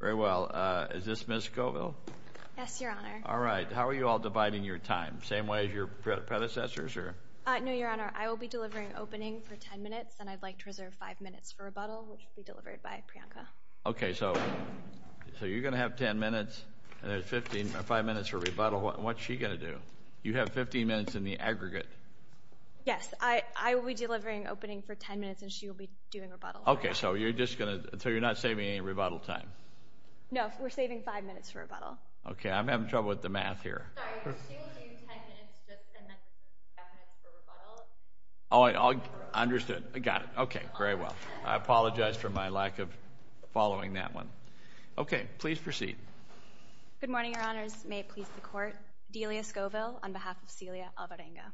Very well. Is this Ms. Scoville? Yes, Your Honor. All right. How are you all dividing your time? Same way as your predecessors? No, Your Honor. I will be delivering opening for 10 minutes, and I'd like to reserve 5 minutes for rebuttal, which will be delivered by Priyanka. Okay, so you're going to have 10 minutes, and there's 5 minutes for rebuttal. What's she going to do? You have 15 minutes in the aggregate. Yes, I will be delivering opening for 10 minutes, and she will be doing rebuttal. Okay, so you're not saving any rebuttal time. No, we're saving 5 minutes for rebuttal. Okay, I'm having trouble with the math here. Sorry, she will give you 10 minutes, and then 5 minutes for rebuttal. Oh, I understood. I got it. Okay, very well. I apologize for my lack of following that one. Okay, please proceed. Good morning, Your Honors. May it please the Court. Delia Scoville on behalf of Celia Alvarenga.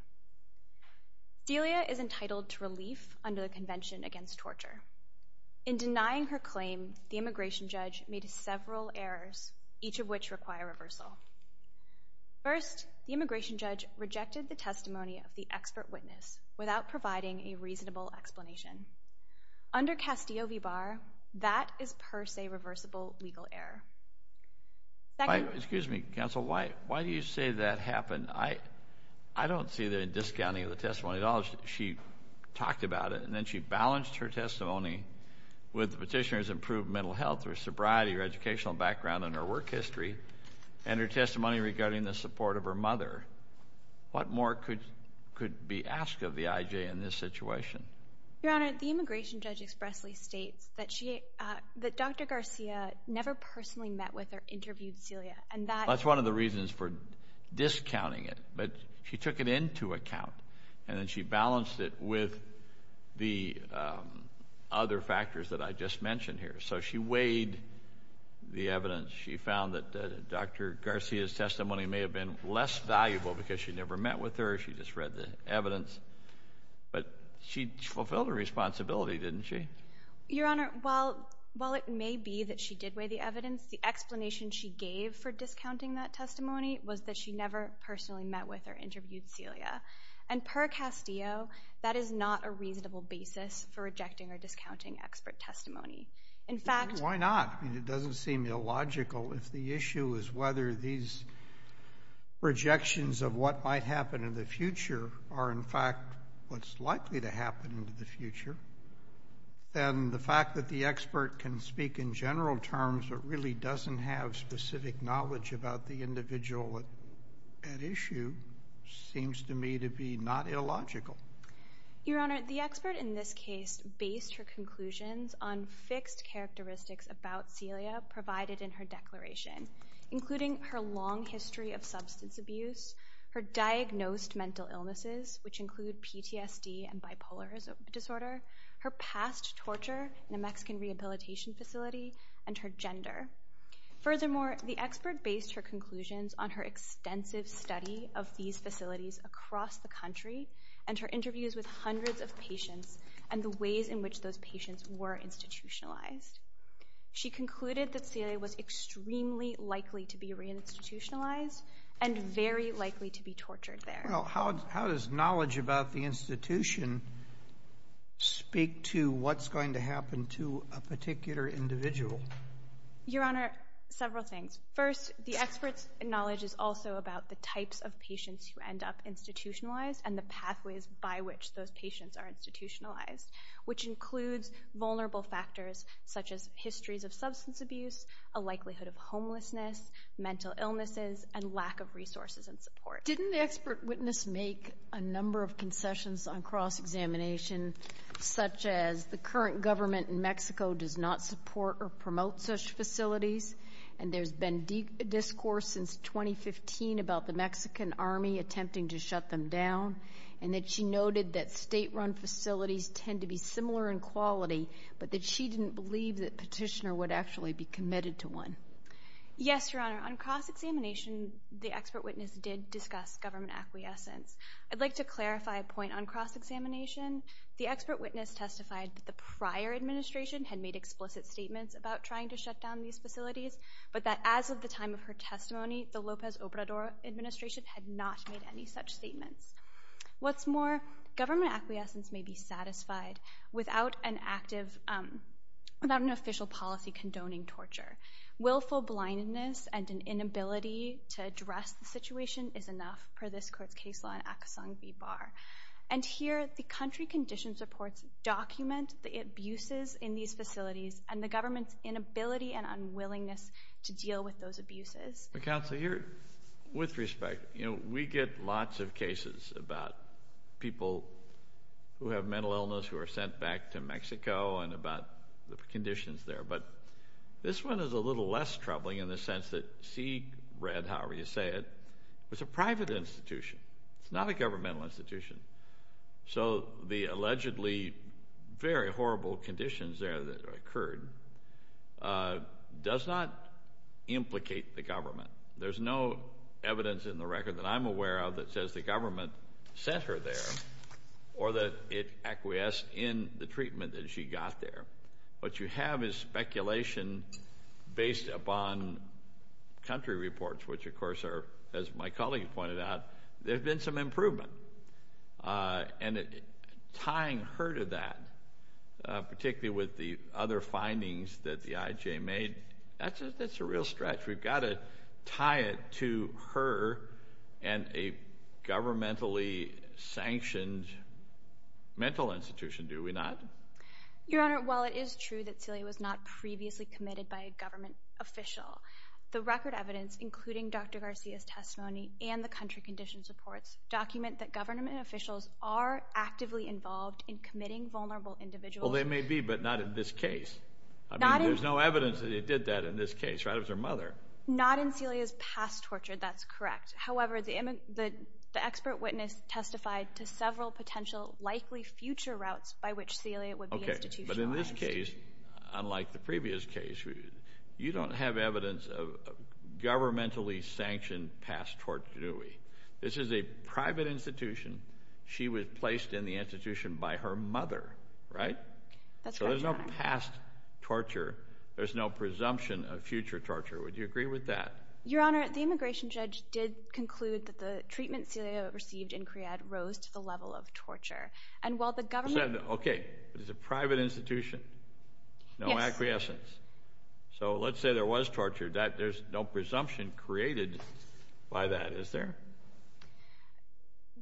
Delia is entitled to relief under the Convention Against Torture. In denying her claim, the immigration judge made several errors, each of which require reversal. First, the immigration judge rejected the testimony of the expert witness without providing a reasonable explanation. Under Castillo v. Barr, that is per se reversible legal error. Excuse me, counsel. Why do you say that happened? I don't see the discounting of the testimony at all. She talked about it, and then she balanced her testimony with the petitioner's improved mental health or sobriety or educational background and her work history, and her testimony regarding the support of her mother. What more could be asked of the I.J. in this situation? Your Honor, the immigration judge expressly states that Dr. Garcia never personally met with or interviewed Celia. That's one of the reasons for discounting it. But she took it into account, and then she balanced it with the other factors that I just mentioned here. So she weighed the evidence. She found that Dr. Garcia's testimony may have been less valuable because she never met with her. She just read the evidence. But she fulfilled her responsibility, didn't she? Your Honor, while it may be that she did weigh the evidence, the explanation she gave for discounting that testimony was that she never personally met with or interviewed Celia. And per Castillo, that is not a reasonable basis for rejecting or discounting expert testimony. Why not? It doesn't seem illogical. If the issue is whether these projections of what might happen in the future and the fact that the expert can speak in general terms but really doesn't have specific knowledge about the individual at issue seems to me to be not illogical. Your Honor, the expert in this case based her conclusions on fixed characteristics about Celia provided in her declaration, including her long history of substance abuse, her diagnosed mental illnesses, which include PTSD and bipolar disorder, her past torture in a Mexican rehabilitation facility, and her gender. Furthermore, the expert based her conclusions on her extensive study of these facilities across the country and her interviews with hundreds of patients and the ways in which those patients were institutionalized. She concluded that Celia was extremely likely to be reinstitutionalized and very likely to be tortured there. How does knowledge about the institution speak to what's going to happen to a particular individual? Your Honor, several things. First, the expert's knowledge is also about the types of patients who end up institutionalized and the pathways by which those patients are institutionalized, which includes vulnerable factors such as histories of substance abuse, a likelihood of homelessness, mental illnesses, and lack of resources and support. Didn't the expert witness make a number of concessions on cross-examination such as the current government in Mexico does not support or promote such facilities and there's been discourse since 2015 about the Mexican Army attempting to shut them down and that she noted that state-run facilities tend to be similar in quality but that she didn't believe that Petitioner would actually be committed to one. Yes, Your Honor. On cross-examination, the expert witness did discuss government acquiescence. I'd like to clarify a point on cross-examination. The expert witness testified that the prior administration had made explicit statements about trying to shut down these facilities, but that as of the time of her testimony, the Lopez Obrador administration had not made any such statements. What's more, government acquiescence may be satisfied without an official policy condoning torture. Willful blindness and an inability to address the situation is enough, per this court's case law in Accusung v. Barr. And here, the country conditions reports document the abuses in these facilities and the government's inability and unwillingness to deal with those abuses. Counsel, with respect, we get lots of cases about people who have mental illness who are sent back to Mexico and about the conditions there, but this one is a little less troubling in the sense that CRED, however you say it, is a private institution. It's not a governmental institution. It does not implicate the government. There's no evidence in the record that I'm aware of that says the government sent her there or that it acquiesced in the treatment that she got there. What you have is speculation based upon country reports, which, of course, are, as my colleague pointed out, there have been some improvement. And tying her to that, particularly with the other findings that the IJ made, that's a real stretch. We've got to tie it to her and a governmentally sanctioned mental institution, do we not? Your Honor, while it is true that Celia was not previously committed by a government official, the record evidence, including Dr. Garcia's testimony and the country conditions reports document that government officials are actively involved in committing vulnerable individuals. Well, they may be, but not in this case. I mean, there's no evidence that it did that in this case, right? It was her mother. Not in Celia's past torture, that's correct. However, the expert witness testified to several potential likely future routes by which Celia would be institutionalized. Okay, but in this case, unlike the previous case, this is a private institution. She was placed in the institution by her mother, right? That's correct, Your Honor. So there's no past torture. There's no presumption of future torture. Would you agree with that? Your Honor, the immigration judge did conclude that the treatment Celia received in CREAD rose to the level of torture. And while the government— Okay, but it's a private institution. Yes. No acquiescence. So let's say there was torture. There's no presumption created by that, is there?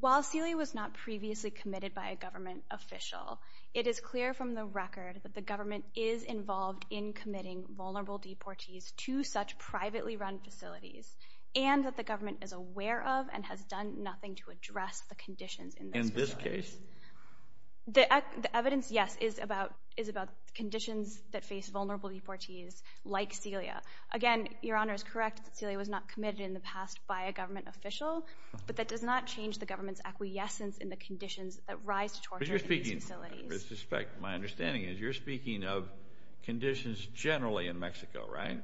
While Celia was not previously committed by a government official, it is clear from the record that the government is involved in committing vulnerable deportees to such privately run facilities and that the government is aware of and has done nothing to address the conditions in this facility. In this case? The evidence, yes, is about conditions that face vulnerable deportees like Celia. Again, Your Honor is correct that Celia was not committed in the past by a government official, but that does not change the government's acquiescence in the conditions that rise to torture in these facilities. But you're speaking, with respect, my understanding is you're speaking of conditions generally in Mexico, right?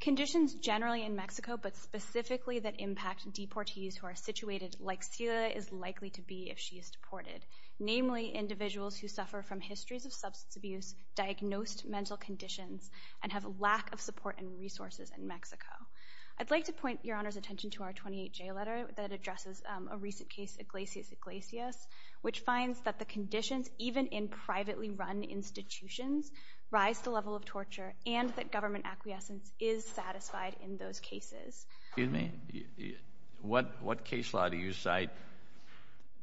Conditions generally in Mexico, but specifically that impact deportees who are situated like Celia is likely to be if she is deported, namely individuals who suffer from histories of substance abuse, diagnosed mental conditions, and have lack of support and resources in Mexico. I'd like to point Your Honor's attention to our 28-J letter that addresses a recent case, Iglesias-Iglesias, which finds that the conditions, even in privately run institutions, rise to the level of torture and that government acquiescence is satisfied in those cases. Excuse me, what case law do you cite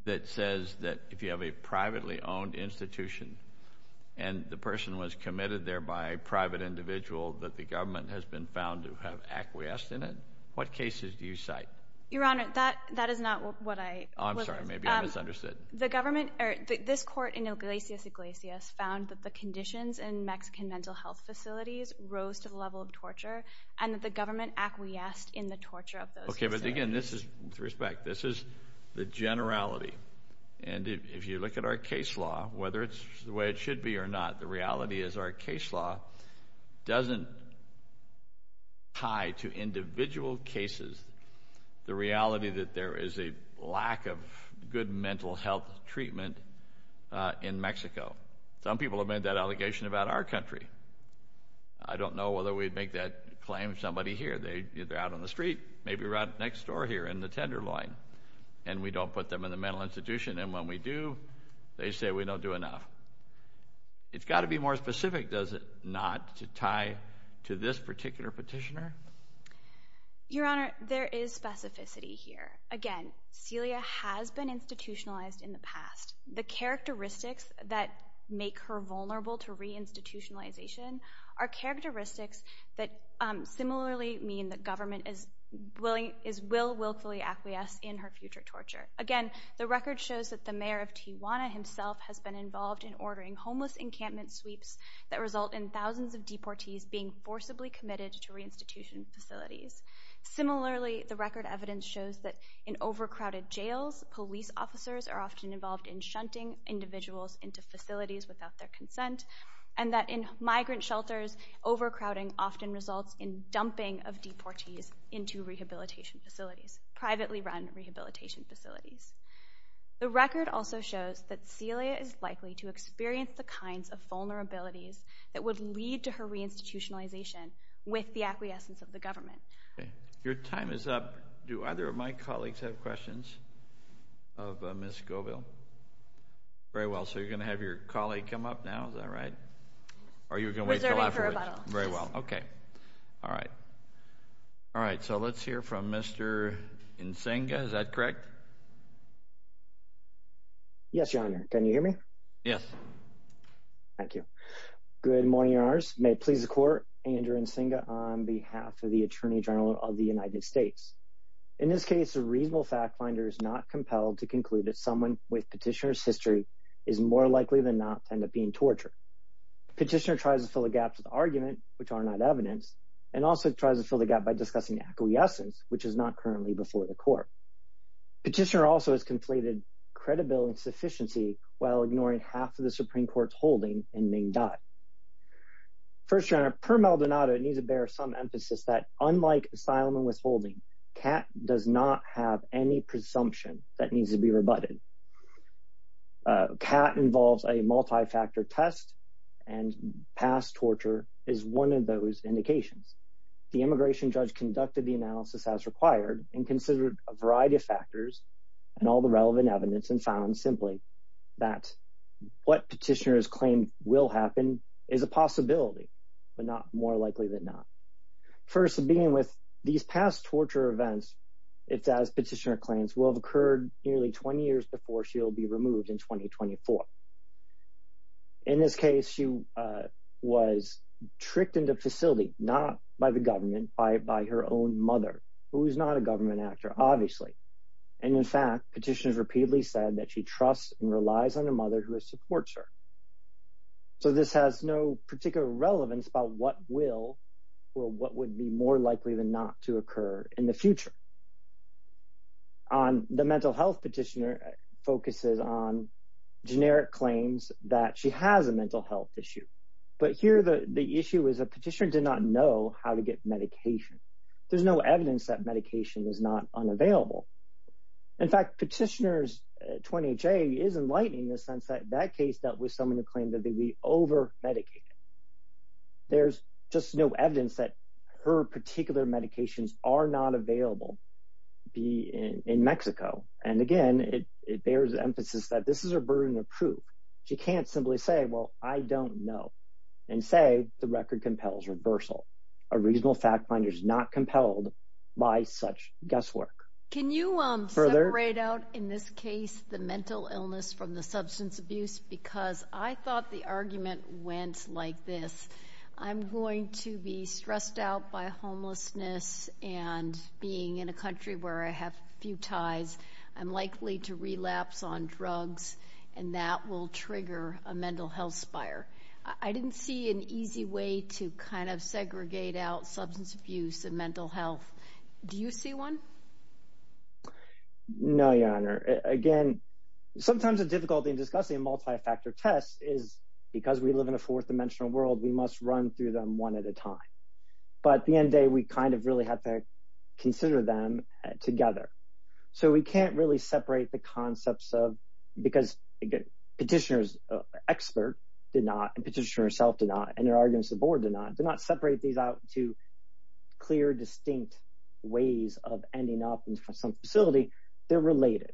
that says that if you have a privately owned institution and the person was committed there by a private individual, that the government has been found to have acquiesced in it? What cases do you cite? Your Honor, that is not what I was asking. I'm sorry, maybe I misunderstood. The government, or this court in Iglesias-Iglesias, found that the conditions in Mexican mental health facilities rose to the level of torture and that the government acquiesced in the torture of those individuals. Okay, but again, this is, with respect, this is the generality. And if you look at our case law, whether it's the way it should be or not, the reality is our case law doesn't tie to individual cases the reality that there is a lack of good mental health treatment in Mexico. Some people have made that allegation about our country. I don't know whether we'd make that claim if somebody here, they're out on the street, maybe right next door here in the Tenderloin, and we don't put them in the mental institution. And when we do, they say we don't do enough. It's got to be more specific, does it, not to tie to this particular petitioner? Your Honor, there is specificity here. Again, Celia has been institutionalized in the past. The characteristics that make her vulnerable to reinstitutionalization are characteristics that similarly mean that government will willfully acquiesce in her future torture. Again, the record shows that the mayor of Tijuana himself has been involved in ordering homeless encampment sweeps that result in thousands of deportees being forcibly committed to reinstitution facilities. Similarly, the record evidence shows that in overcrowded jails, police officers are often involved in shunting individuals into facilities without their consent, and that in migrant shelters, overcrowding often results in dumping of deportees into rehabilitation facilities, privately run rehabilitation facilities. The record also shows that Celia is likely to experience the kinds of vulnerabilities that would lead to her reinstitutionalization with the acquiescence of the government. Your time is up. Do either of my colleagues have questions of Ms. Scoville? Very well. So you're going to have your colleague come up now, is that right? Or are you going to wait until afterwards? Very well. Okay. All right. All right, so let's hear from Mr. Nzinga. Is that correct? Yes, Your Honor. Can you hear me? Yes. Thank you. Good morning, Your Honors. May it please the Court, Andrew Nzinga on behalf of the Attorney General of the United States. In this case, a reasonable fact finder is not compelled to conclude that someone with petitioner's history is more likely than not to end up being tortured. Petitioner tries to fill the gaps with argument, which are not evidence, and also tries to fill the gap by discussing acquiescence, which is not currently before the Court. Petitioner also has conflated credibility and sufficiency while ignoring half of the Supreme Court's holding in Nzinga. First, Your Honor, per Maldonado, it needs to bear some emphasis that unlike asylum and withholding, CAT does not have any presumption that needs to be rebutted. CAT involves a multi-factor test, and past torture is one of those indications. The immigration judge conducted the analysis as required and considered a variety of factors and all the relevant evidence and found simply that what petitioner has claimed will happen is a possibility, but not more likely than not. First, in being with these past torture events, it's as petitioner claims, will have occurred nearly 20 years before she will be removed in 2024. In this case, she was tricked into a facility, not by the government, by her own mother, who is not a government actor, obviously. And in fact, petitioner has repeatedly said that she trusts and relies on a mother who supports her. So this has no particular relevance about what will or what would be more likely than not to occur in the future. The mental health petitioner focuses on generic claims that she has a mental health issue. But here the issue is a petitioner did not know how to get medication. There's no evidence that medication is not unavailable. In fact, petitioner's 20-J is enlightening in the sense that that case dealt with someone who claimed that they were over-medicated. There's just no evidence that her particular medications are not available in Mexico. And again, it bears emphasis that this is a burden of proof. She can't simply say, well, I don't know, and say the record compels reversal. A reasonable fact finder is not compelled by such guesswork. Can you separate out in this case the mental illness from the substance abuse? Because I thought the argument went like this. I'm going to be stressed out by homelessness and being in a country where I have few ties. I'm likely to relapse on drugs, and that will trigger a mental health spire. I didn't see an easy way to kind of segregate out substance abuse and mental health. Do you see one? No, Your Honor. Again, sometimes the difficulty in discussing a multi-factor test is because we live in a fourth-dimensional world, we must run through them one at a time. But at the end of the day, we kind of really have to consider them together. So we can't really separate the concepts of, because petitioner's expert did not, and petitioner herself did not, and there are arguments the board did not, did not separate these out to clear, distinct ways of ending up in some facility. They're related.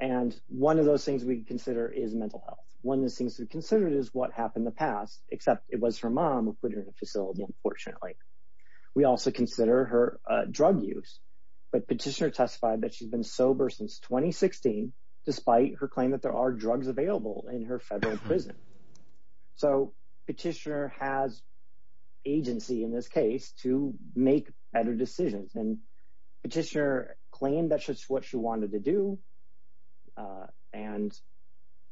And one of those things we consider is mental health. One of the things to consider is what happened in the past, except it was her mom who put her in the facility, unfortunately. We also consider her drug use, but petitioner testified that she's been sober since 2016, despite her claim that there are drugs available in her federal prison. So petitioner has agency in this case to make better decisions, and petitioner claimed that's just what she wanted to do. And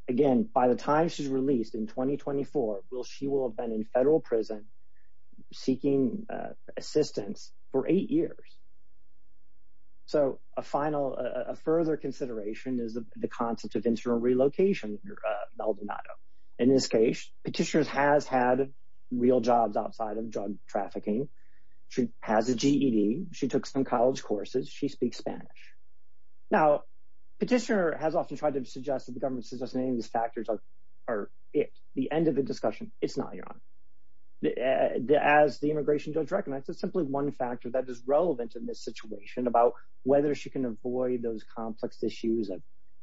again, by the time she's released in 2024, she will have been in federal prison seeking assistance for eight years. So a final, a further consideration is the concept of interim relocation under Maldonado. In this case, petitioner has had real jobs outside of drug trafficking. She has a GED. She took some college courses. She speaks Spanish. Now, petitioner has often tried to suggest that the government suggests that any of these factors are it. The end of the discussion, it's not, Your Honor. As the immigration judge recommends, it's simply one factor that is relevant in this situation about whether she can avoid those complex issues of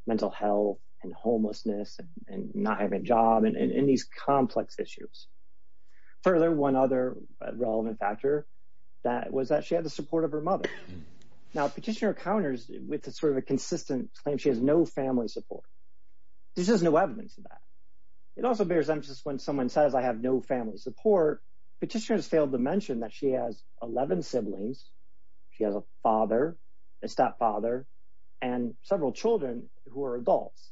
mental health and homelessness and not having a job and these complex issues. Further, one other relevant factor was that she had the support of her mother. Now, petitioner encounters with sort of a consistent claim she has no family support. There's just no evidence of that. It also bears emphasis when someone says, I have no family support, petitioner has failed to mention that she has 11 siblings. She has a father, a stepfather, and several children who are adults.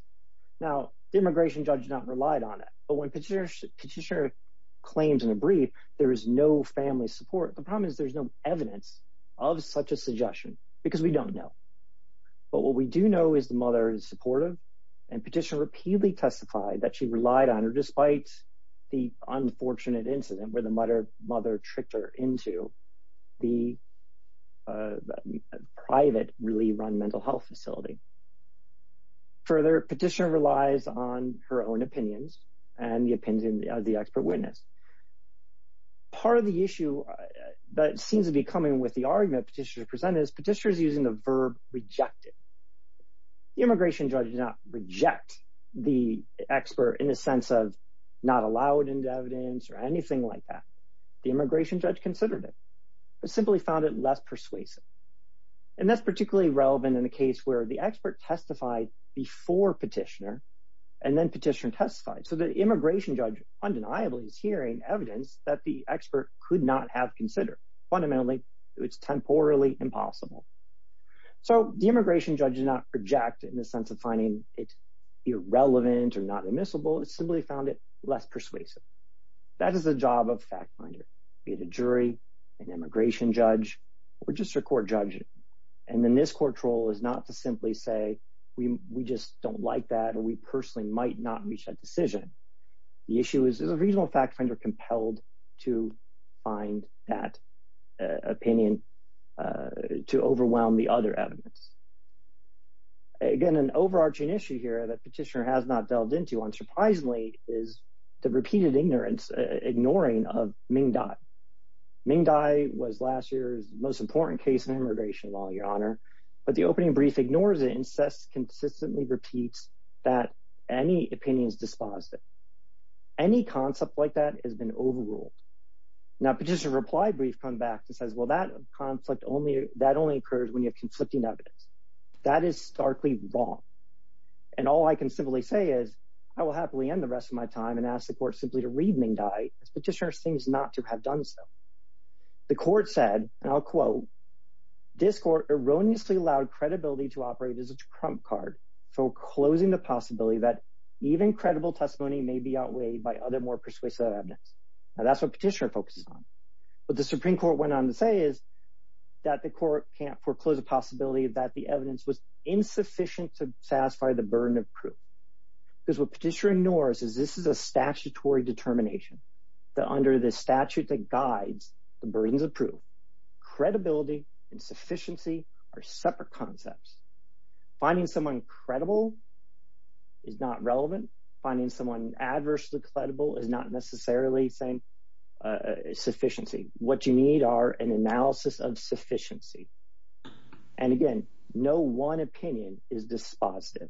Now, the immigration judge not relied on it. But when petitioner claims in a brief there is no family support, the problem is there's no evidence of such a suggestion because we don't know. But what we do know is the mother is supportive, and petitioner repeatedly testified that she relied on her despite the unfortunate incident where the mother tricked her into the private really run mental health facility. Further, petitioner relies on her own opinions and the opinion of the expert witness. Part of the issue that seems to be coming with the argument petitioner presented is petitioner is using the verb rejected. The immigration judge did not reject the expert in a sense of not allowed into evidence or anything like that. The immigration judge considered it, but simply found it less persuasive. And that's particularly relevant in the case where the expert testified before petitioner, and then petitioner testified. So the immigration judge undeniably is hearing evidence that the expert could not have considered. Fundamentally, it's temporally impossible. So the immigration judge did not reject in the sense of finding it irrelevant or not admissible. It simply found it less persuasive. That is the job of fact finder, be it a jury, an immigration judge, or just a court judge. And then this court's role is not to simply say we just don't like that or we personally might not reach that decision. The issue is a reasonable fact finder compelled to find that opinion to overwhelm the other evidence. Again, an overarching issue here that petitioner has not delved into unsurprisingly is the repeated ignorance, ignoring of Ming Dai. Ming Dai was last year's most important case in immigration law, Your Honor. But the opening brief ignores it and consistently repeats that any opinion is dispositive. Any concept like that has been overruled. Now, petitioner's reply brief comes back and says, well, that conflict only occurs when you have conflicting evidence. That is starkly wrong. And all I can simply say is I will happily end the rest of my time and ask the court simply to read Ming Dai. This petitioner seems not to have done so. The court said, and I'll quote, this court erroneously allowed credibility to operate as a trump card, foreclosing the possibility that even credible testimony may be outweighed by other more persuasive evidence. Now, that's what petitioner focuses on. What the Supreme Court went on to say is that the court can't foreclose the possibility that the evidence was insufficient to satisfy the burden of proof. Because what petitioner ignores is this is a statutory determination that, under the statute that guides the burdens of proof, credibility and sufficiency are separate concepts. Finding someone credible is not relevant. Finding someone adversely credible is not necessarily saying sufficiency. What you need are an analysis of sufficiency. And again, no one opinion is dispositive.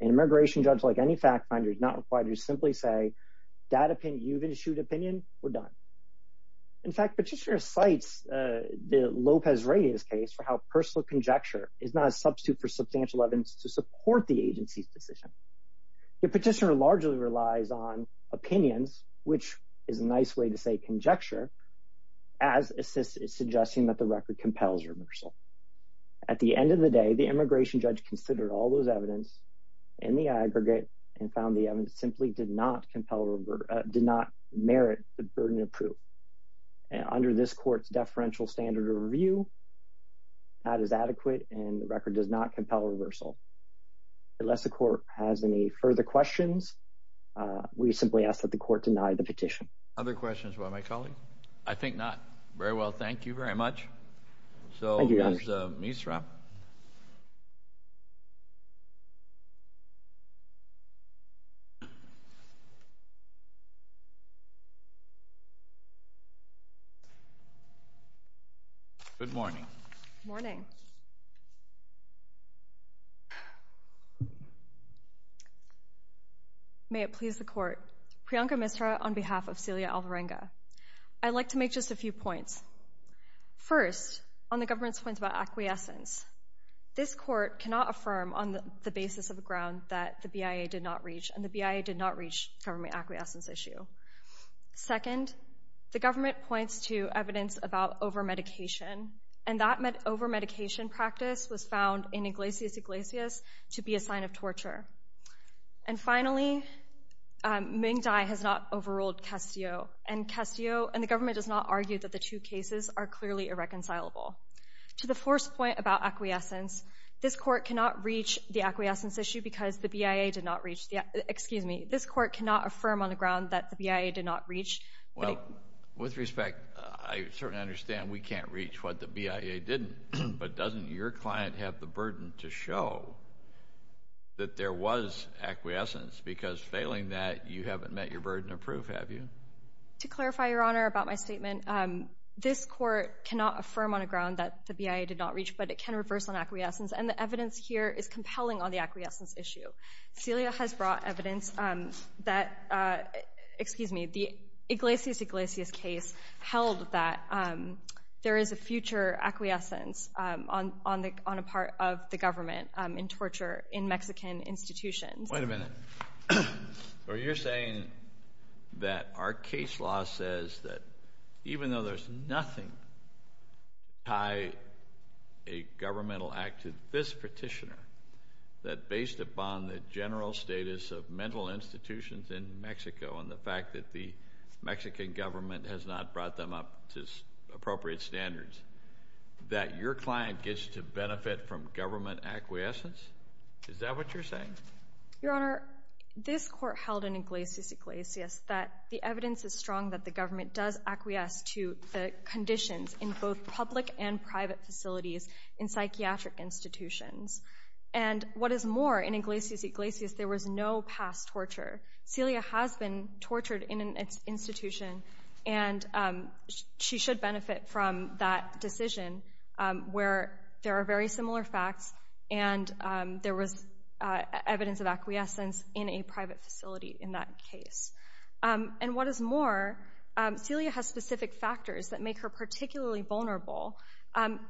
An immigration judge, like any fact finder, is not required to simply say that opinion you've issued opinion, we're done. In fact, petitioner cites the Lopez-Reyes case for how personal conjecture is not a substitute for substantial evidence to support the agency's decision. The petitioner largely relies on opinions, which is a nice way to say conjecture, as it's suggesting that the record compels remersal. At the end of the day, the immigration judge considered all those evidence in the aggregate and found the evidence simply did not merit the burden of proof. Under this court's deferential standard of review, that is adequate and the record does not compel reversal. Unless the court has any further questions, we simply ask that the court deny the petition. Other questions from my colleague? I think not. Very well, thank you very much. Thank you, Your Honor. Ms. Misra. Good morning. Good morning. May it please the court. Priyanka Misra on behalf of Celia Alvarenga. I'd like to make just a few points. First, on the government's point about acquiescence, this court cannot affirm on the basis of a ground that the BIA did not reach, and the BIA did not reach a government acquiescence issue. Second, the government points to evidence about overmedication, and that overmedication practice was found in Iglesias Iglesias to be a sign of torture. And finally, Ming Dai has not overruled Castillo, and the government does not argue that the two cases are clearly irreconcilable. To the fourth point about acquiescence, this court cannot reach the acquiescence issue because the BIA did not reach. Excuse me. This court cannot affirm on the ground that the BIA did not reach. Well, with respect, I certainly understand we can't reach what the BIA didn't, but doesn't your client have the burden to show that there was acquiescence? Because failing that, you haven't met your burden of proof, have you? To clarify, Your Honor, about my statement, this court cannot affirm on a ground that the BIA did not reach, but it can reverse an acquiescence, and the evidence here is compelling on the acquiescence issue. Celia has brought evidence that, excuse me, the Iglesias Iglesias case held that there is a future acquiescence on a part of the government in torture in Mexican institutions. Wait a minute. So you're saying that our case law says that even though there's nothing to tie a governmental act to this petitioner, that based upon the general status of mental institutions in Mexico and the fact that the Mexican government has not brought them up to appropriate standards, that your client gets to benefit from government acquiescence? Is that what you're saying? Your Honor, this court held in Iglesias Iglesias that the evidence is strong that the government does acquiesce to the conditions in both public and private facilities in psychiatric institutions. And what is more, in Iglesias Iglesias, there was no past torture. Celia has been tortured in an institution, and she should benefit from that decision where there are very similar facts and there was evidence of acquiescence in a private facility in that case. And what is more, Celia has specific factors that make her particularly vulnerable.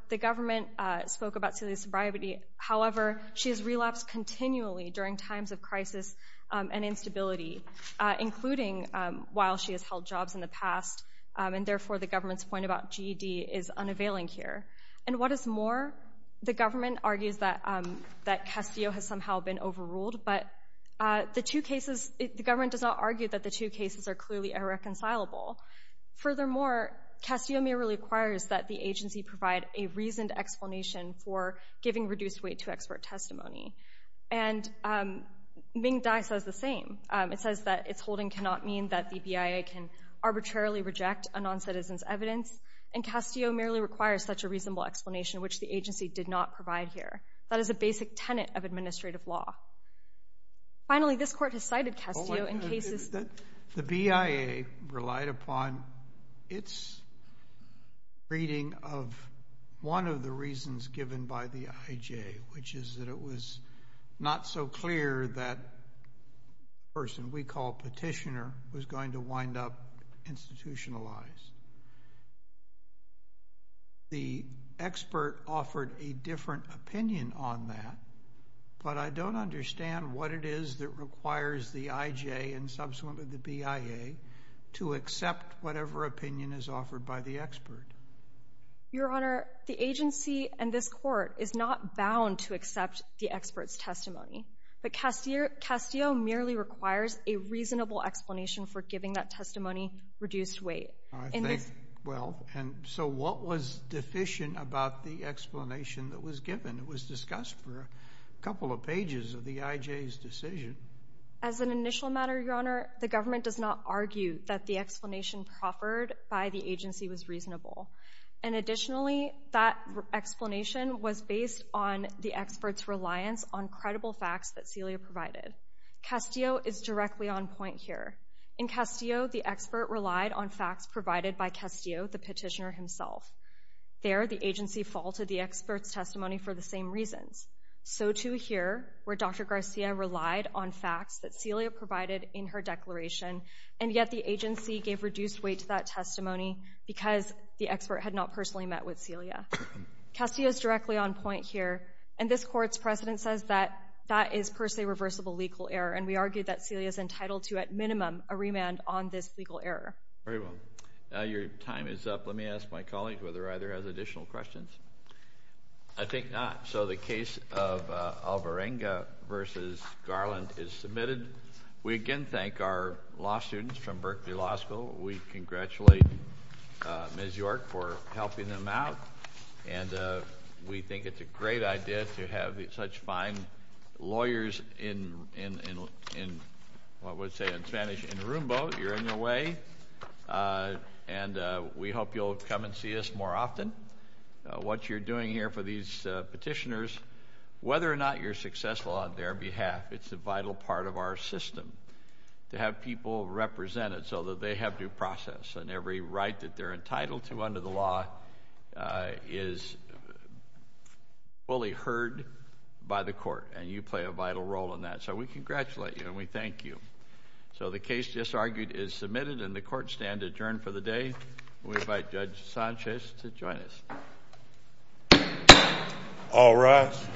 The government spoke about Celia's sobriety. However, she has relapsed continually during times of crisis and instability, including while she has held jobs in the past, and therefore the government's point about GED is unavailing here. And what is more, the government argues that Castillo has somehow been overruled, but the two cases, the government does not argue that the two cases are clearly irreconcilable. Furthermore, Castillo merely requires that the agency provide a reasoned explanation for giving reduced weight to expert testimony. And Ming Dai says the same. It says that its holding cannot mean that the BIA can arbitrarily reject a noncitizen's evidence, and Castillo merely requires such a reasonable explanation, which the agency did not provide here. That is a basic tenet of administrative law. Finally, this court has cited Castillo in cases. The BIA relied upon its reading of one of the reasons given by the IJ, which is that it was not so clear that the person we call petitioner was going to wind up institutionalized. The expert offered a different opinion on that, but I don't understand what it is that requires the IJ and subsequently the BIA to accept whatever opinion is offered by the expert. Your Honor, the agency and this court is not bound to accept the expert's testimony, but Castillo merely requires a reasonable explanation for giving that testimony reduced weight. Well, so what was deficient about the explanation that was given? It was discussed for a couple of pages of the IJ's decision. As an initial matter, Your Honor, the government does not argue that the explanation proffered by the agency was reasonable. And additionally, that explanation was based on the expert's reliance on credible facts that Celia provided. Castillo is directly on point here. In Castillo, the expert relied on facts provided by Castillo, the petitioner himself. There, the agency faltered the expert's testimony for the same reasons. So too here, where Dr. Garcia relied on facts that Celia provided in her declaration, and yet the agency gave reduced weight to that testimony because the expert had not personally met with Celia. Castillo is directly on point here. And this Court's precedent says that that is per se reversible legal error, and we argue that Celia is entitled to, at minimum, a remand on this legal error. Very well. Now your time is up. Let me ask my colleague whether or not he has additional questions. I think not. So the case of Alvarenga v. Garland is submitted. We again thank our law students from Berkeley Law School. We congratulate Ms. York for helping them out. And we think it's a great idea to have such fine lawyers in, what would you say in Spanish, in Roomba. You're in your way. And we hope you'll come and see us more often. What you're doing here for these petitioners, whether or not you're successful on their behalf, it's a vital part of our system to have people represented so that they have due process and every right that they're entitled to under the law is fully heard by the Court, and you play a vital role in that. So we congratulate you, and we thank you. So the case just argued is submitted, and the Court stands adjourned for the day. We invite Judge Sanchez to join us. All rise.